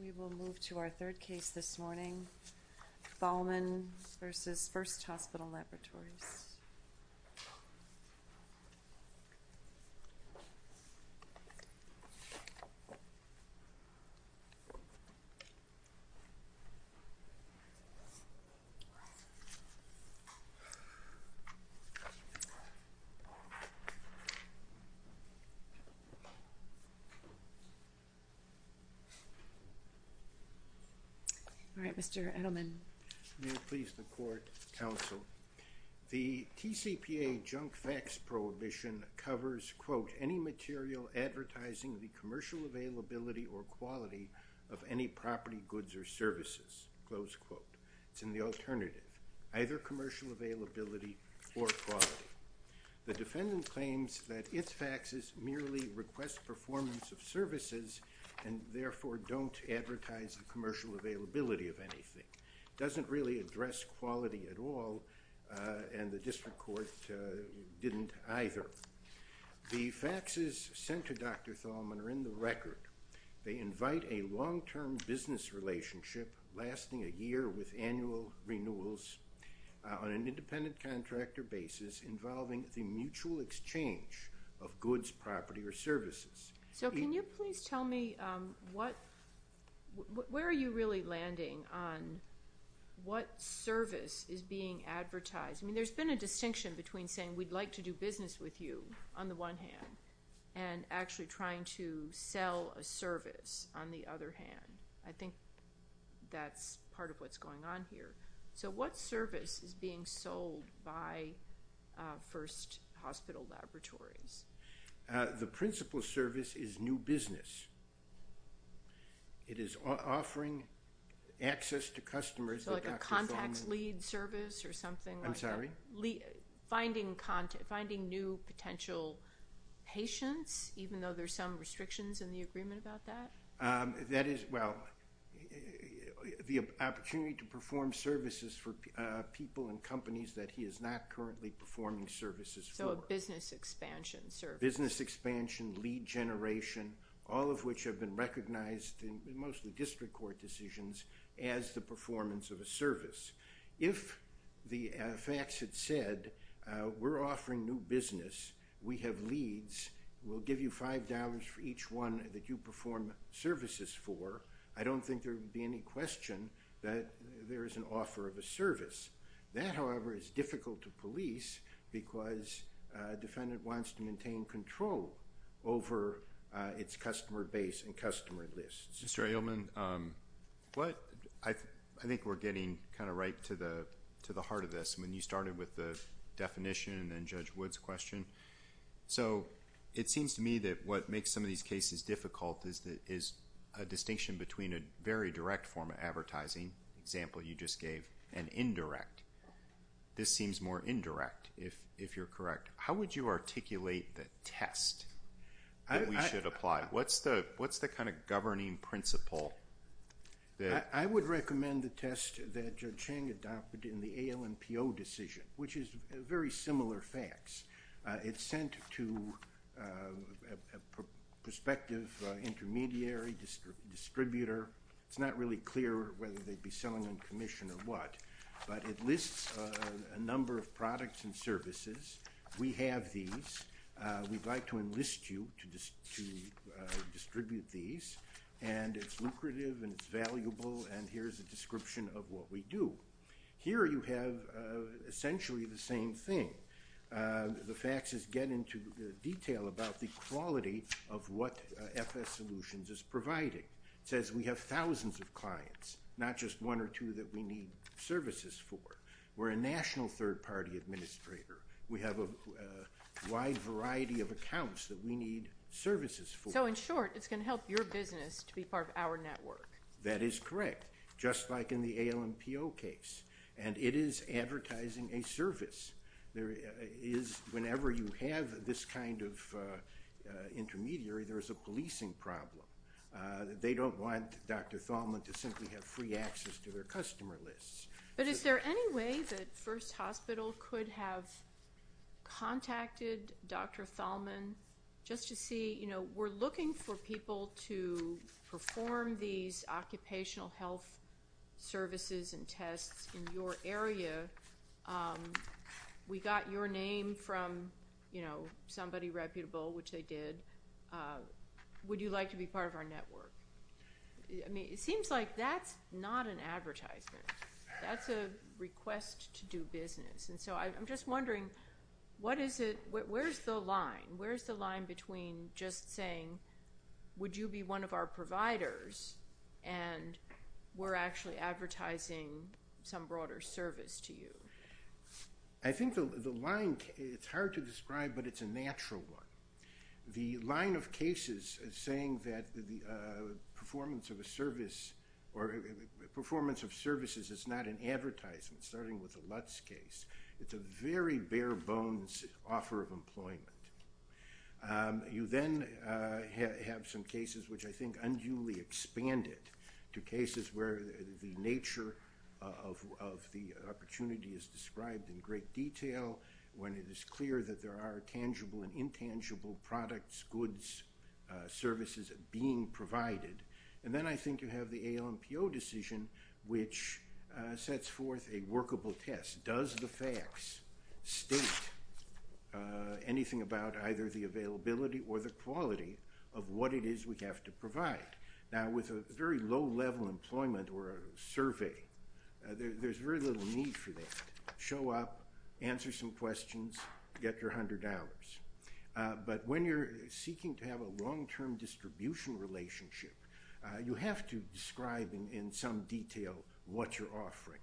We will move to our third case this morning, Thalman v. First Hospital Laboratories. All right, Mr. Edelman. May it please the Court, Counsel. The TCPA junk fax prohibition covers, quote, any material advertising the commercial availability or quality of any property, goods, or services. Close quote. It's in the alternative. Either commercial availability or quality. The defendant claims that its faxes merely request performance of services and therefore don't advertise the commercial availability of anything. It doesn't really address quality at all, and the District Court didn't either. The faxes sent to Dr. Thalman are in the record. They invite a long-term business relationship lasting a year with annual renewals on an independent contractor basis involving the mutual exchange of goods, property, or services. So can you please tell me where are you really landing on what service is being advertised? I mean, there's been a distinction between saying we'd like to do business with you, on the one hand, and actually trying to sell a service, on the other hand. I think that's part of what's going on here. So what service is being sold by First Hospital Laboratories? The principal service is new business. It is offering access to customers that Dr. Thalman So like a contacts lead service or something like that? I'm sorry? Finding new potential patients, even though there's some restrictions in the agreement about that? That is, well, the opportunity to perform services for people and companies that he is not currently performing services for. So a business expansion service? Business expansion, lead generation, all of which have been recognized in mostly District Court decisions as the performance of a service. If the fax had said, we're offering new business, we have leads, we'll give you $5 for each one that you perform services for, I don't think there would be any question that there is an offer of a service. That, however, is difficult to police because a defendant wants to maintain control over its customer base and customer lists. Mr. Ailman, I think we're getting kind of right to the heart of this. I mean, you started with the definition and then Judge Wood's question. So it seems to me that what makes some of these cases difficult is a distinction between a very direct form of advertising, the example you just gave, and indirect. This seems more indirect, if you're correct. How would you articulate the test that we should apply? What's the kind of governing principle? I would recommend the test that Judge Chang adopted in the ALNPO decision, which is very similar facts. It's sent to a prospective intermediary distributor. It's not really clear whether they'd be selling on commission or what, but it lists a number of products and services. We have these. We'd like to enlist you to distribute these. And it's lucrative and it's valuable, and here's a description of what we do. Here you have essentially the same thing. The facts get into detail about the quality of what FS Solutions is providing. It says we have thousands of clients, not just one or two that we need services for. We're a national third-party administrator. We have a wide variety of accounts that we need services for. So, in short, it's going to help your business to be part of our network. That is correct, just like in the ALNPO case, and it is advertising a service. Whenever you have this kind of intermediary, there is a policing problem. They don't want Dr. Thalman to simply have free access to their customer lists. But is there any way that First Hospital could have contacted Dr. Thalman just to see, you know, we're looking for people to perform these occupational health services and tests in your area. We got your name from, you know, somebody reputable, which they did. Would you like to be part of our network? I mean, it seems like that's not an advertisement. That's a request to do business. And so I'm just wondering, where's the line? Where's the line between just saying, would you be one of our providers, and we're actually advertising some broader service to you? I think the line, it's hard to describe, but it's a natural one. The line of cases is saying that the performance of a service or performance of services is not an advertisement, starting with the Lutz case. It's a very bare bones offer of employment. You then have some cases which I think unduly expanded to cases where the nature of the opportunity is described in great detail, when it is clear that there are tangible and intangible products, goods, services being provided. And then I think you have the ALMPO decision, which sets forth a workable test. Does the facts state anything about either the availability or the quality of what it is we have to provide? Now, with a very low-level employment or a survey, there's very little need for that. Show up, answer some questions, get your $100. But when you're seeking to have a long-term distribution relationship, you have to describe in some detail what you're offering.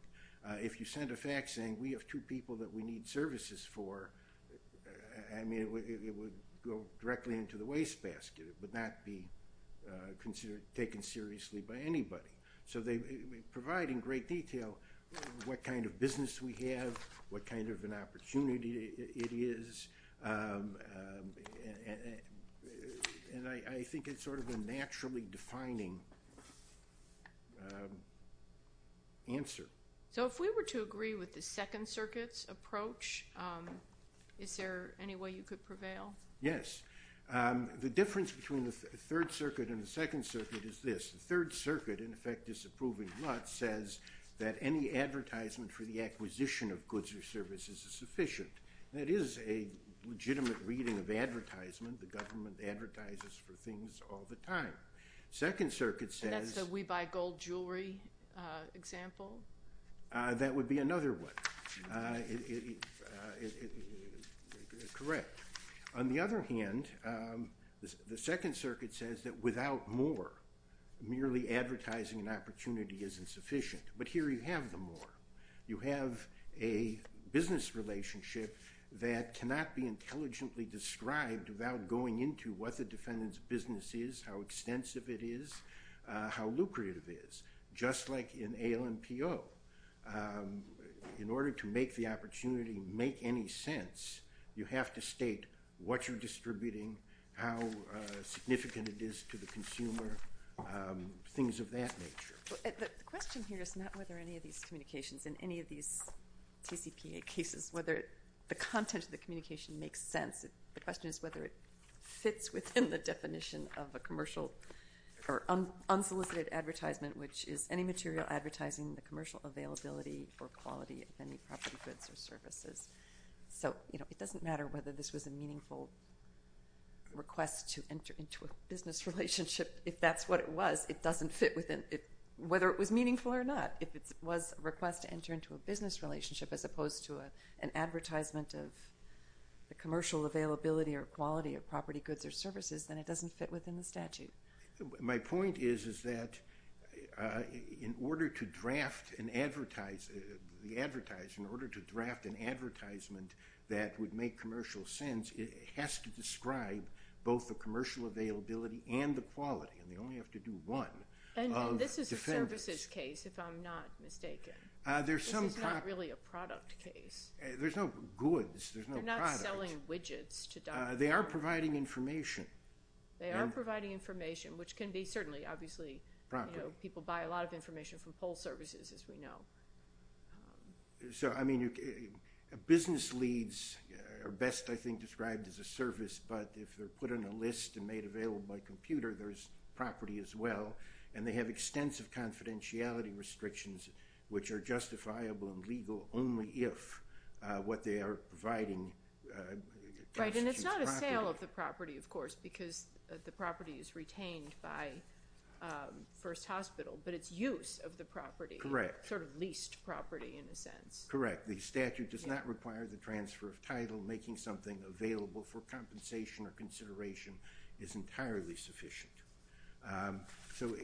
If you send a fax saying, we have two people that we need services for, I mean, it would go directly into the wastebasket. It would not be taken seriously by anybody. So they provide in great detail what kind of business we have, what kind of an opportunity it is. And I think it's sort of a naturally defining answer. So if we were to agree with the Second Circuit's approach, is there any way you could prevail? Yes. The difference between the Third Circuit and the Second Circuit is this. The Third Circuit, in effect disapproving Lutz, says that any advertisement for the acquisition of goods or services is sufficient. That is a legitimate reading of advertisement. The government advertises for things all the time. Second Circuit says – And that's the we buy gold jewelry example? That would be another one. Correct. On the other hand, the Second Circuit says that without more, merely advertising an opportunity isn't sufficient. But here you have the more. You have a business relationship that cannot be intelligently described without going into what the defendant's business is, how extensive it is, how lucrative it is. Just like in ALNPO, in order to make the opportunity make any sense, you have to state what you're distributing, how significant it is to the consumer, things of that nature. The question here is not whether any of these communications in any of these TCPA cases, whether the content of the communication makes sense. The question is whether it fits within the definition of a commercial or unsolicited advertisement, which is any material advertising the commercial availability or quality of any property, goods or services. So it doesn't matter whether this was a meaningful request to enter into a business relationship. If that's what it was, it doesn't fit whether it was meaningful or not. If it was a request to enter into a business relationship as opposed to an advertisement of the commercial availability or quality of property, goods or services, then it doesn't fit within the statute. My point is that in order to draft an advertisement that would make commercial sense, it has to describe both the commercial availability and the quality, and they only have to do one. And this is a services case, if I'm not mistaken. This is not really a product case. There's no goods. They're not selling widgets. They are providing information. They are providing information, which can be certainly, obviously, people buy a lot of information from poll services, as we know. So, I mean, business leads are best, I think, described as a service, but if they're put on a list and made available by computer, there's property as well. And they have extensive confidentiality restrictions, which are justifiable and legal only if what they are providing constitutes property. Right, and it's not a sale of the property, of course, because the property is retained by First Hospital, but it's use of the property. Correct. Sort of leased property, in a sense. Correct. The statute does not require the transfer of title. Making something available for compensation or consideration is entirely sufficient. So,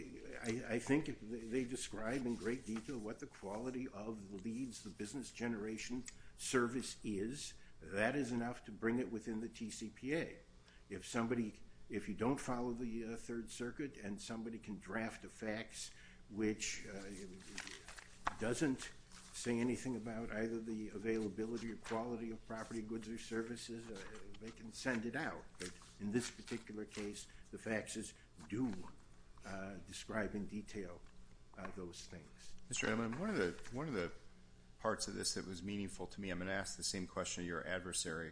I think they describe in great detail what the quality of the leads, the business generation service is. That is enough to bring it within the TCPA. If somebody, if you don't follow the Third Circuit, and somebody can draft a fax, which doesn't say anything about either the availability or quality of property, goods, or services, they can send it out. But in this particular case, the faxes do describe in detail those things. Mr. Edelman, one of the parts of this that was meaningful to me, I'm going to ask the same question to your adversary,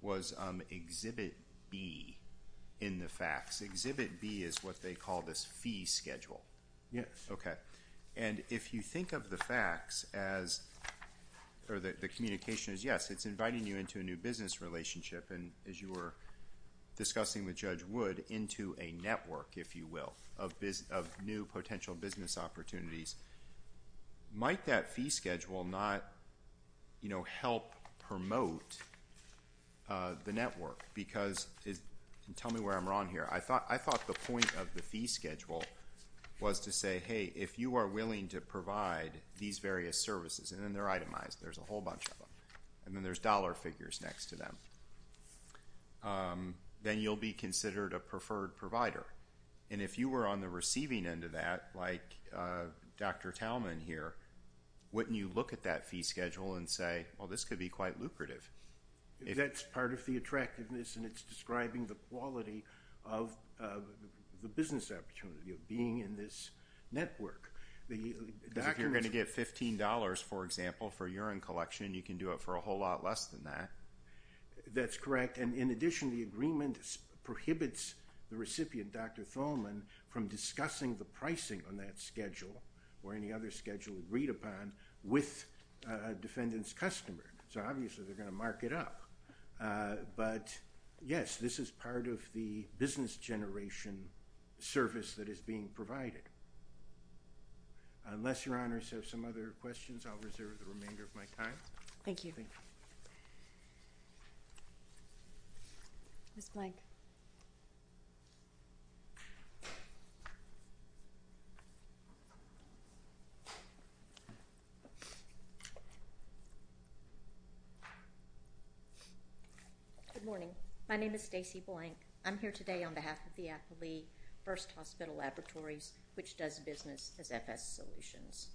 was Exhibit B in the fax. Exhibit B is what they call this fee schedule. Yes. Okay. And if you think of the fax as, or the communication as, yes, it's inviting you into a new business relationship, and as you were discussing with Judge Wood, into a network, if you will, of new potential business opportunities, might that fee schedule not help promote the network? Because, and tell me where I'm wrong here, I thought the point of the fee schedule was to say, hey, if you are willing to provide these various services, and then they're itemized, there's a whole bunch of them, and then there's dollar figures next to them, then you'll be considered a preferred provider. And if you were on the receiving end of that, like Dr. Talman here, wouldn't you look at that fee schedule and say, well, this could be quite lucrative? That's part of the attractiveness, and it's describing the quality of the business opportunity of being in this network. Because if you're going to get $15, for example, for urine collection, you can do it for a whole lot less than that. That's correct. And in addition, the agreement prohibits the recipient, Dr. Talman, from discussing the pricing on that schedule or any other schedule agreed upon with a defendant's customer. So obviously, they're going to mark it up. But yes, this is part of the business generation service that is being provided. Unless Your Honors have some other questions, I'll reserve the remainder of my time. Thank you. Thank you. Ms. Blank. Good morning. My name is Stacey Blank. I'm here today on behalf of the Appley First Hospital Laboratories, which does business as FS Solutions.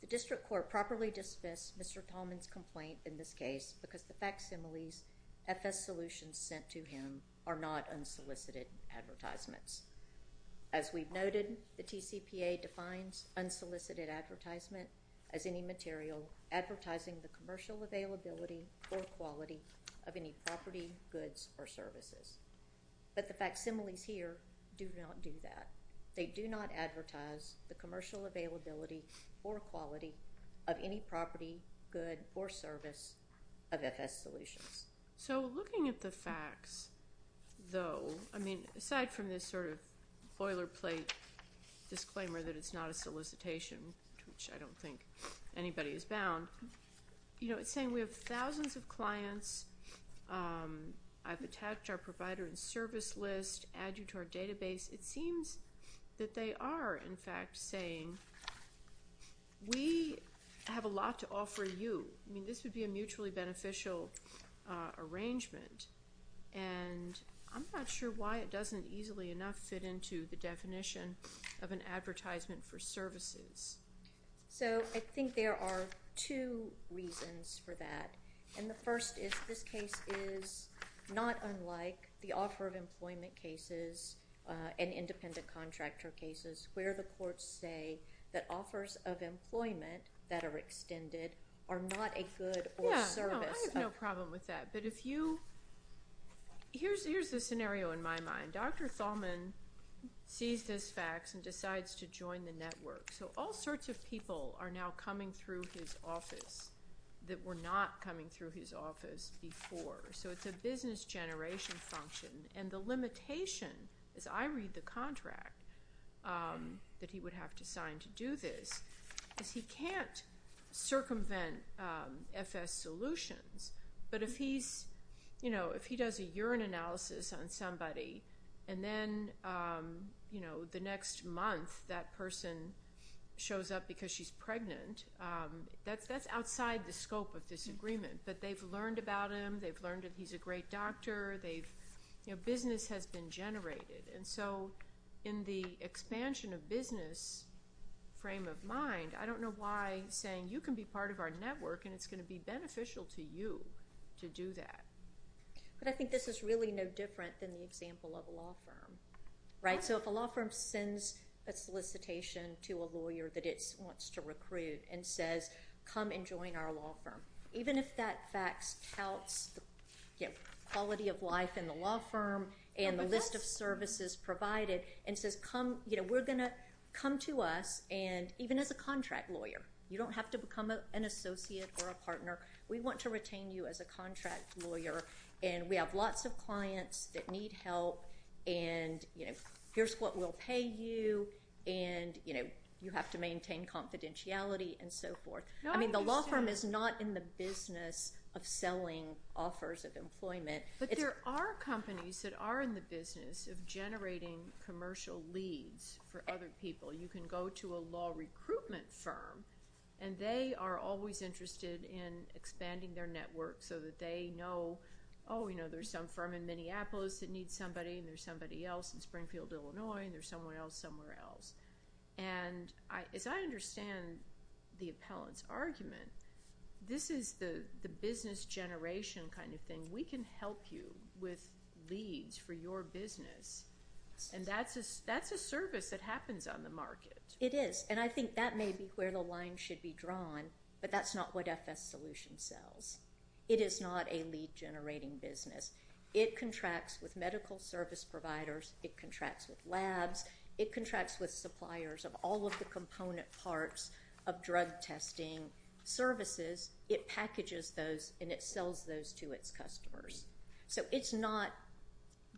The district court properly dismissed Mr. Talman's complaint in this case because the facsimiles FS Solutions sent to him are not unsolicited advertisements. As we've noted, the TCPA defines unsolicited advertisement as any material advertising the commercial availability or quality of any property, goods, or services. But the facsimiles here do not do that. They do not advertise the commercial availability or quality of any property, good, or service of FS Solutions. So looking at the facts, though, I mean, aside from this sort of boilerplate disclaimer that it's not a solicitation, which I don't think anybody is bound, you know, it's saying we have thousands of clients. I've attached our provider and service list, add you to our database. It seems that they are, in fact, saying we have a lot to offer you. I mean, this would be a mutually beneficial arrangement, and I'm not sure why it doesn't easily enough fit into the definition of an advertisement for services. So I think there are two reasons for that. And the first is this case is not unlike the offer of employment cases and independent contractor cases where the courts say that offers of employment that are extended are not a good or service. Yeah, no, I have no problem with that. But if you ‑‑ here's the scenario in my mind. Dr. Thalman sees this fax and decides to join the network. So all sorts of people are now coming through his office that were not coming through his office before. So it's a business generation function. And the limitation, as I read the contract that he would have to sign to do this, is he can't circumvent FS solutions. But if he's, you know, if he does a urine analysis on somebody and then, you know, the next month that person shows up because she's pregnant, that's outside the scope of this agreement. But they've learned about him. They've learned that he's a great doctor. You know, business has been generated. And so in the expansion of business frame of mind, I don't know why saying you can be part of our network and it's going to be beneficial to you to do that. But I think this is really no different than the example of a law firm. Right? So if a law firm sends a solicitation to a lawyer that it wants to recruit and says come and join our law firm, even if that fax counts the quality of life in the law firm and the list of services provided and says come, you know, we're going to come to us and even as a contract lawyer, you don't have to become an associate or a partner. We want to retain you as a contract lawyer. And we have lots of clients that need help. And, you know, here's what we'll pay you. And, you know, you have to maintain confidentiality and so forth. I mean the law firm is not in the business of selling offers of employment. But there are companies that are in the business of generating commercial leads for other people. You can go to a law recruitment firm, and they are always interested in expanding their network so that they know, oh, you know, there's some firm in Minneapolis that needs somebody, and there's somebody else in Springfield, Illinois, and there's someone else somewhere else. And as I understand the appellant's argument, this is the business generation kind of thing. We can help you with leads for your business. And that's a service that happens on the market. It is, and I think that may be where the line should be drawn, but that's not what FS Solution sells. It is not a lead generating business. It contracts with medical service providers. It contracts with labs. It contracts with suppliers of all of the component parts of drug testing services. It packages those, and it sells those to its customers. So it's not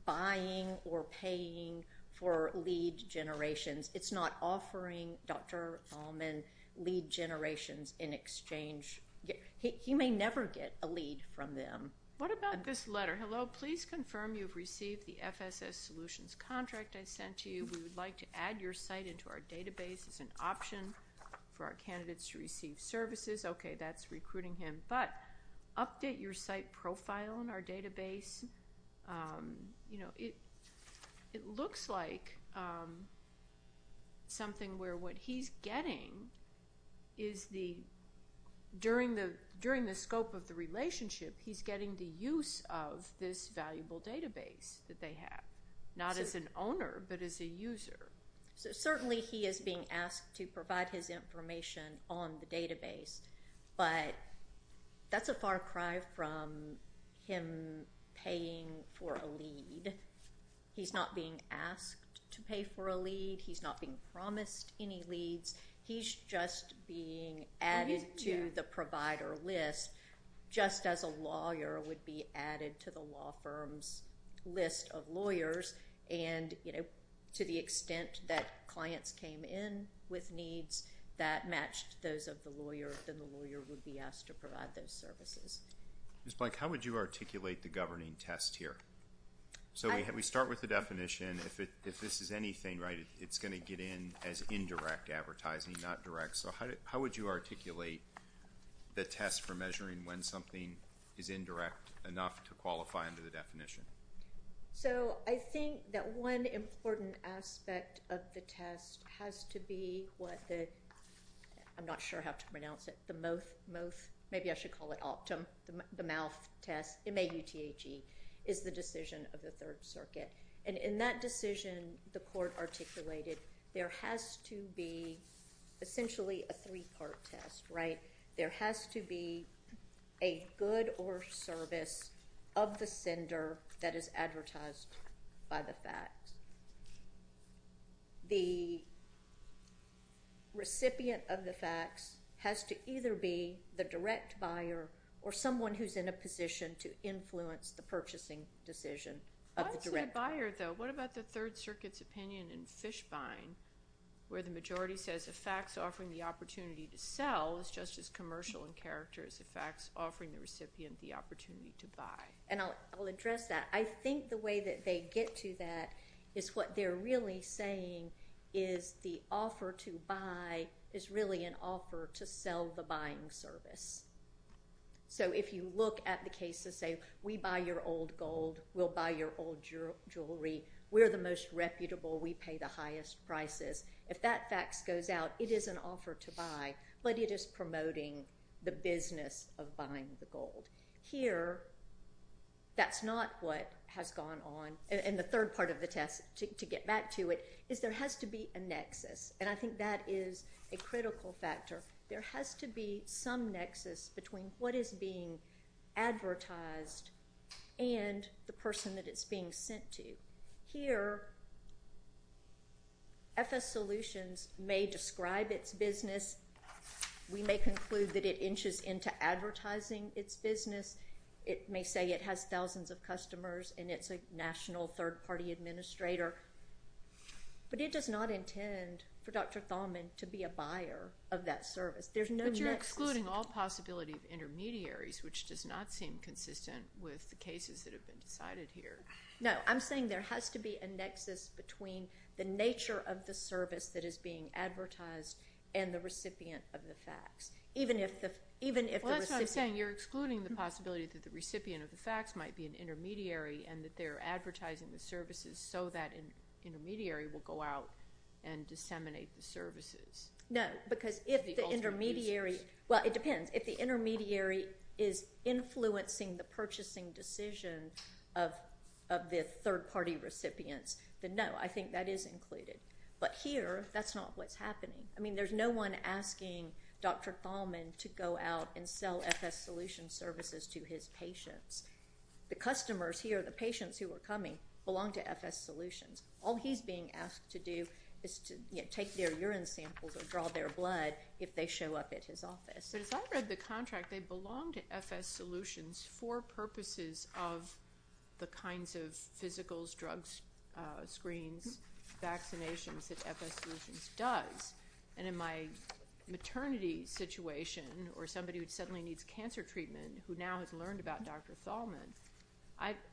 buying or paying for lead generations. It's not offering Dr. Thalman lead generations in exchange. He may never get a lead from them. What about this letter? Hello, please confirm you've received the FS Solutions contract I sent to you. We would like to add your site into our database as an option for our candidates to receive services. Okay, that's recruiting him. But update your site profile in our database. You know, it looks like something where what he's getting is the, during the scope of the relationship, he's getting the use of this valuable database that they have, not as an owner but as a user. So certainly he is being asked to provide his information on the database, but that's a far cry from him paying for a lead. He's not being asked to pay for a lead. He's not being promised any leads. He's just being added to the provider list just as a lawyer would be added to the law firm's list of lawyers. And, you know, to the extent that clients came in with needs that matched those of the lawyer, then the lawyer would be asked to provide those services. Ms. Blank, how would you articulate the governing test here? So we start with the definition. If this is anything, right, it's going to get in as indirect advertising, not direct. So how would you articulate the test for measuring when something is indirect enough to qualify under the definition? So I think that one important aspect of the test has to be what the, I'm not sure how to pronounce it, the mouth test, M-A-U-T-H-E, is the decision of the Third Circuit. And in that decision, the court articulated there has to be essentially a three-part test, right? There has to be a good or service of the sender that is advertised by the fax. The recipient of the fax has to either be the direct buyer or someone who's in a position to influence the purchasing decision of the director. Obviously a buyer, though. What about the Third Circuit's opinion in Fishbine where the majority says a fax offering the opportunity to sell is just as commercial in character as a fax offering the recipient the opportunity to buy? And I'll address that. I think the way that they get to that is what they're really saying is the offer to buy is really an offer to sell the buying service. So if you look at the case to say we buy your old gold, we'll buy your old jewelry, we're the most reputable, we pay the highest prices, if that fax goes out, it is an offer to buy, but it is promoting the business of buying the gold. Here, that's not what has gone on. And the third part of the test, to get back to it, is there has to be a nexus. And I think that is a critical factor. There has to be some nexus between what is being advertised and the person that it's being sent to. Here, FS Solutions may describe its business. We may conclude that it inches into advertising its business. It may say it has thousands of customers and it's a national third-party administrator. But it does not intend for Dr. Thalman to be a buyer of that service. There's no nexus. But you're excluding all possibility of intermediaries, which does not seem consistent with the cases that have been decided here. No, I'm saying there has to be a nexus between the nature of the service that is being advertised and the recipient of the fax, even if the recipient. Well, that's what I'm saying. You're excluding the possibility that the recipient of the fax might be an intermediary and that they're advertising the services so that intermediary will go out and disseminate the services. No, because if the intermediary is influencing the purchasing decision of the third-party recipients, then no, I think that is included. But here, that's not what's happening. I mean, there's no one asking Dr. Thalman to go out and sell FS Solutions services to his patients. The customers here, the patients who are coming, belong to FS Solutions. All he's being asked to do is to take their urine samples or draw their blood if they show up at his office. But as I read the contract, they belong to FS Solutions for purposes of the kinds of physicals, drugs, screens, vaccinations that FS Solutions does. And in my maternity situation or somebody who suddenly needs cancer treatment who now has learned about Dr. Thalman,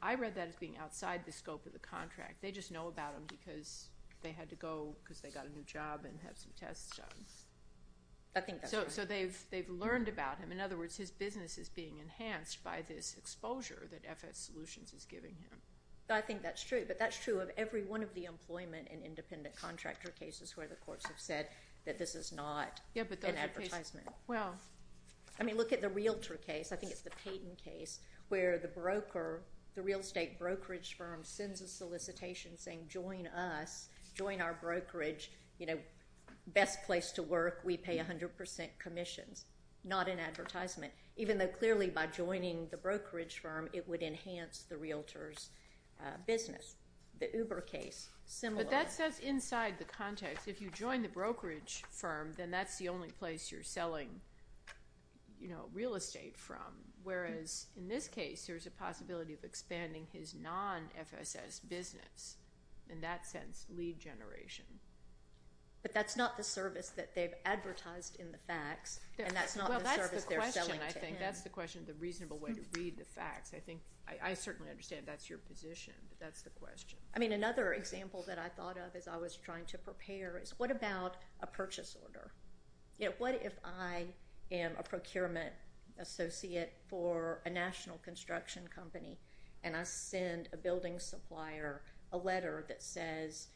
I read that as being outside the scope of the contract. They just know about him because they had to go because they got a new job and have some tests done. So they've learned about him. In other words, his business is being enhanced by this exposure that FS Solutions is giving him. I think that's true. But that's true of every one of the employment and independent contractor cases where the courts have said that this is not an advertisement. Wow. I mean, look at the realtor case. I think it's the Payton case where the broker, the real estate brokerage firm, sends a solicitation saying join us, join our brokerage, you know, best place to work. We pay 100% commissions. Not an advertisement. Even though clearly by joining the brokerage firm, it would enhance the realtor's business. The Uber case, similar. But that says inside the context, if you join the brokerage firm, then that's the only place you're selling, you know, real estate from. Whereas in this case, there's a possibility of expanding his non-FSS business. In that sense, lead generation. But that's not the service that they've advertised in the facts. And that's not the service they're selling to him. Well, that's the question, I think. That's the question of the reasonable way to read the facts. I think I certainly understand that's your position, but that's the question. I mean, another example that I thought of as I was trying to prepare is what about a purchase order? You know, what if I am a procurement associate for a national construction company, and I send a building supplier a letter that says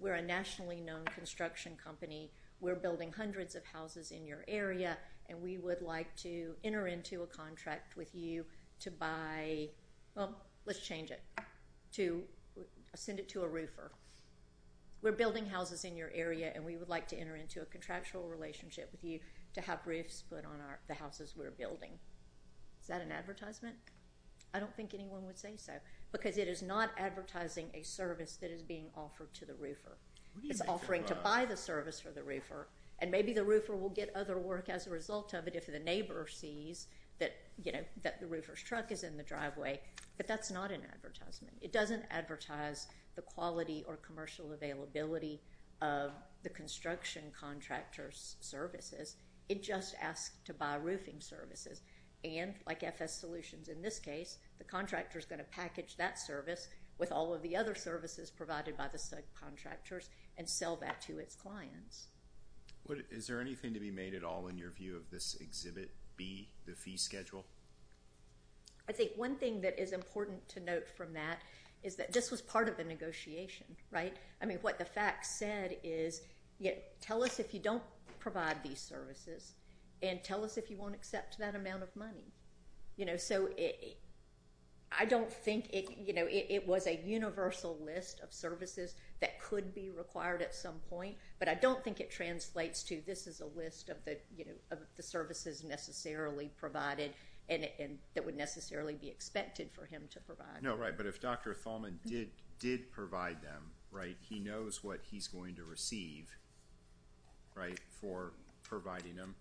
we're a nationally known construction company. We're building hundreds of houses in your area, and we would like to enter into a contract with you to buy, well, let's change it. To send it to a roofer. We're building houses in your area, and we would like to enter into a contractual relationship with you to have roofs put on the houses we're building. Is that an advertisement? I don't think anyone would say so. Because it is not advertising a service that is being offered to the roofer. It's offering to buy the service for the roofer, and maybe the roofer will get other work as a result of it if the neighbor sees that the roofer's truck is in the driveway. But that's not an advertisement. It doesn't advertise the quality or commercial availability of the construction contractor's services. It just asks to buy roofing services. And, like FS Solutions in this case, the contractor's going to package that service with all of the other services provided by the subcontractors and sell that to its clients. Is there anything to be made at all in your view of this Exhibit B, the fee schedule? I think one thing that is important to note from that is that this was part of a negotiation, right? I mean, what the facts said is, tell us if you don't provide these services, and tell us if you won't accept that amount of money. So I don't think it was a universal list of services that could be required at some point, but I don't think it translates to this is a list of the services necessarily provided and that would necessarily be expected for him to provide. No, right, but if Dr. Thalman did provide them, right, he knows what he's going to receive, right, for providing them.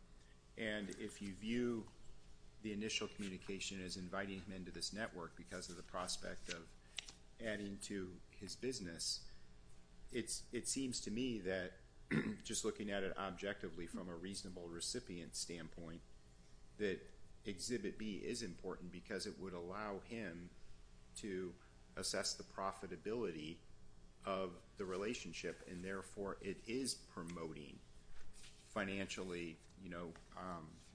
And if you view the initial communication as inviting him into this network because of the prospect of adding to his business, it seems to me that, just looking at it objectively from a reasonable recipient standpoint, that Exhibit B is important because it would allow him to assess the profitability of the relationship, and therefore it is promoting financially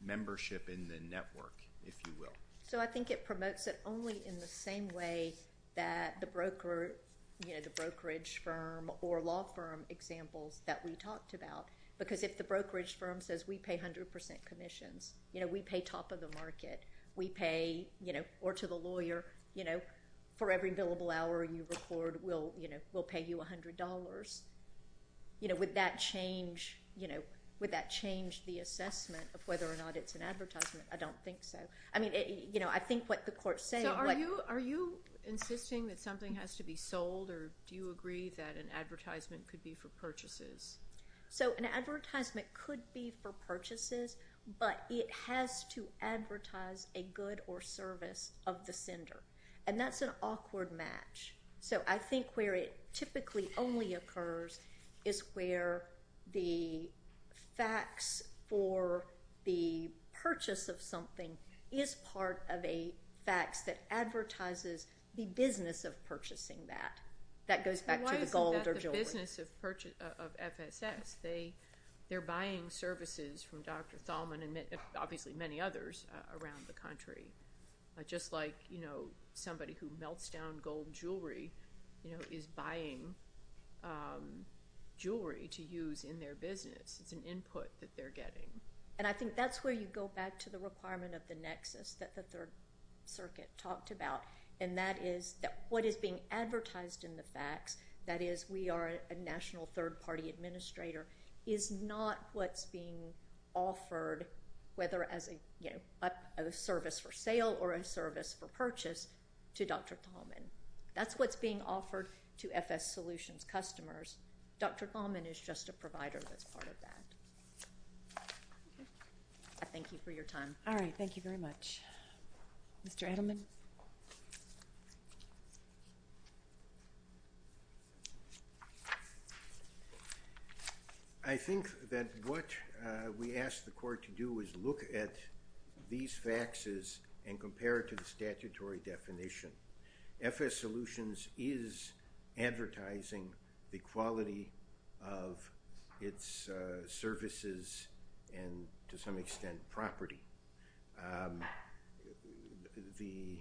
membership in the network, if you will. So I think it promotes it only in the same way that the brokerage firm or law firm examples that we talked about, because if the brokerage firm says, we pay 100% commissions, you know, we pay top of the market, we pay, you know, or to the lawyer, you know, for every billable hour you record, we'll pay you $100, you know, would that change the assessment of whether or not it's an advertisement? I don't think so. I mean, you know, I think what the court's saying. So are you insisting that something has to be sold, or do you agree that an advertisement could be for purchases? So an advertisement could be for purchases, but it has to advertise a good or service of the sender, and that's an awkward match. So I think where it typically only occurs is where the facts for the purchase of something is part of a facts that advertises the business of purchasing that. That goes back to the gold or jewelry. In the business of FSS, they're buying services from Dr. Thalman and obviously many others around the country. Just like, you know, somebody who melts down gold jewelry, you know, is buying jewelry to use in their business. It's an input that they're getting. And I think that's where you go back to the requirement of the nexus that the Third Circuit talked about, and that is that what is being advertised in the facts, that is we are a national third-party administrator, is not what's being offered whether as a service for sale or a service for purchase to Dr. Thalman. That's what's being offered to FSSolutions customers. Dr. Thalman is just a provider that's part of that. I thank you for your time. All right. Thank you very much. Mr. Edelman? I think that what we ask the court to do is look at these facts and compare it to the statutory definition. FSSolutions is advertising the quality of its services and, to some extent, property. The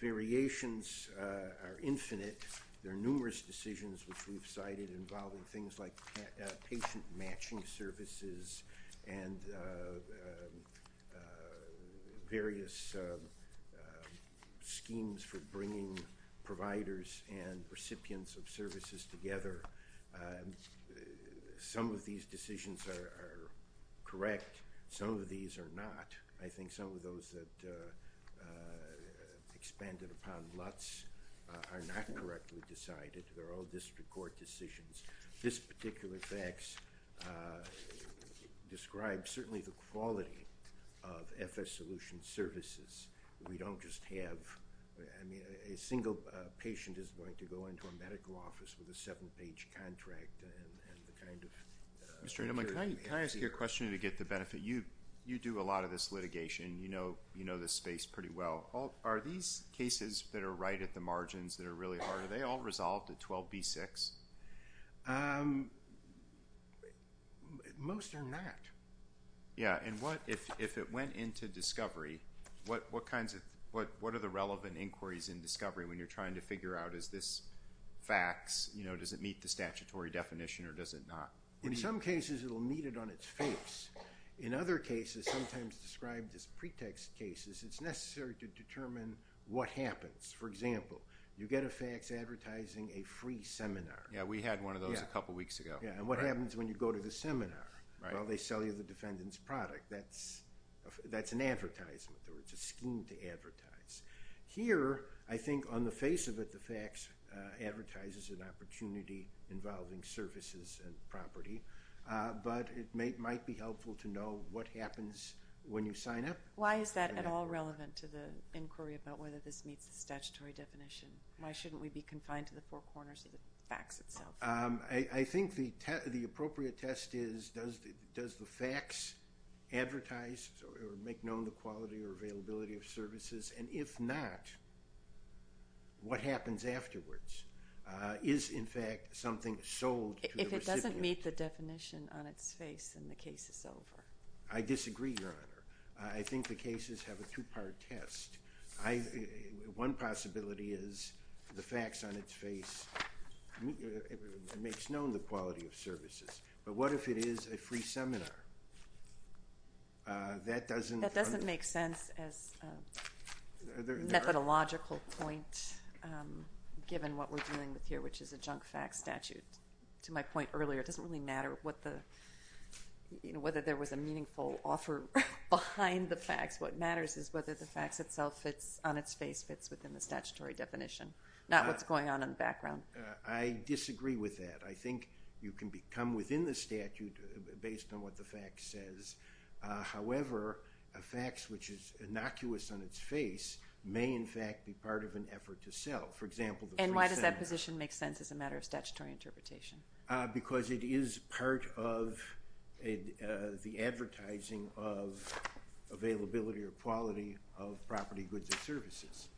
variations are infinite. There are numerous decisions which we've cited involving things like patient-matching services and various schemes for bringing providers and recipients of services together. Some of these decisions are correct. Some of these are not. I think some of those that expanded upon LUTs are not correctly decided. They're all district court decisions. This particular facts describes certainly the quality of FSSolutions services. We don't just have a single patient is going to go into a medical office with a seven-page contract. Mr. Edelman, can I ask you a question to get the benefit? You do a lot of this litigation. You know this space pretty well. Are these cases that are right at the margins that are really hard, are they all resolved at 12B6? Most are not. Yeah. And if it went into discovery, what are the relevant inquiries in discovery when you're trying to figure out, is this facts, does it meet the statutory definition, or does it not? In some cases, it will meet it on its face. In other cases, sometimes described as pretext cases, it's necessary to determine what happens. For example, you get a facts advertising a free seminar. Yeah, we had one of those a couple weeks ago. Yeah, and what happens when you go to the seminar? Well, they sell you the defendant's product. That's an advertisement, or it's a scheme to advertise. Here, I think on the face of it, the facts advertises an opportunity involving services and property, but it might be helpful to know what happens when you sign up. Why is that at all relevant to the inquiry about whether this meets the statutory definition? Why shouldn't we be confined to the four corners of the facts itself? I think the appropriate test is, does the facts advertise or make known the quality or availability of services? And if not, what happens afterwards? Is, in fact, something sold to the recipient? It doesn't meet the definition on its face and the case is over. I disagree, Your Honor. I think the cases have a two-part test. One possibility is the facts on its face makes known the quality of services, but what if it is a free seminar? That doesn't make sense as a methodological point given what we're dealing with here, which is a junk facts statute. To my point earlier, it doesn't really matter whether there was a meaningful offer behind the facts. What matters is whether the facts itself on its face fits within the statutory definition, not what's going on in the background. I disagree with that. I think you can become within the statute based on what the facts says. However, a facts which is innocuous on its face may, in fact, be part of an effort to sell. For example, the free seminar. And why does that position make sense as a matter of statutory interpretation? Because it is part of the advertising of availability or quality of property, goods, and services.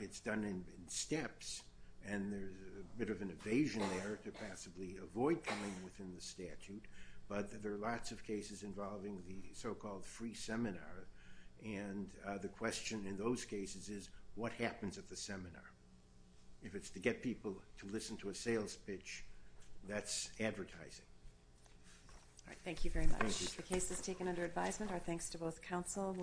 It's done in steps and there's a bit of an evasion there to possibly avoid coming within the statute, but there are lots of cases involving the so-called free seminar. And the question in those cases is what happens at the seminar? If it's to get people to listen to a sales pitch, that's advertising. Thank you very much. The case is taken under advisement. Our thanks to both counsel.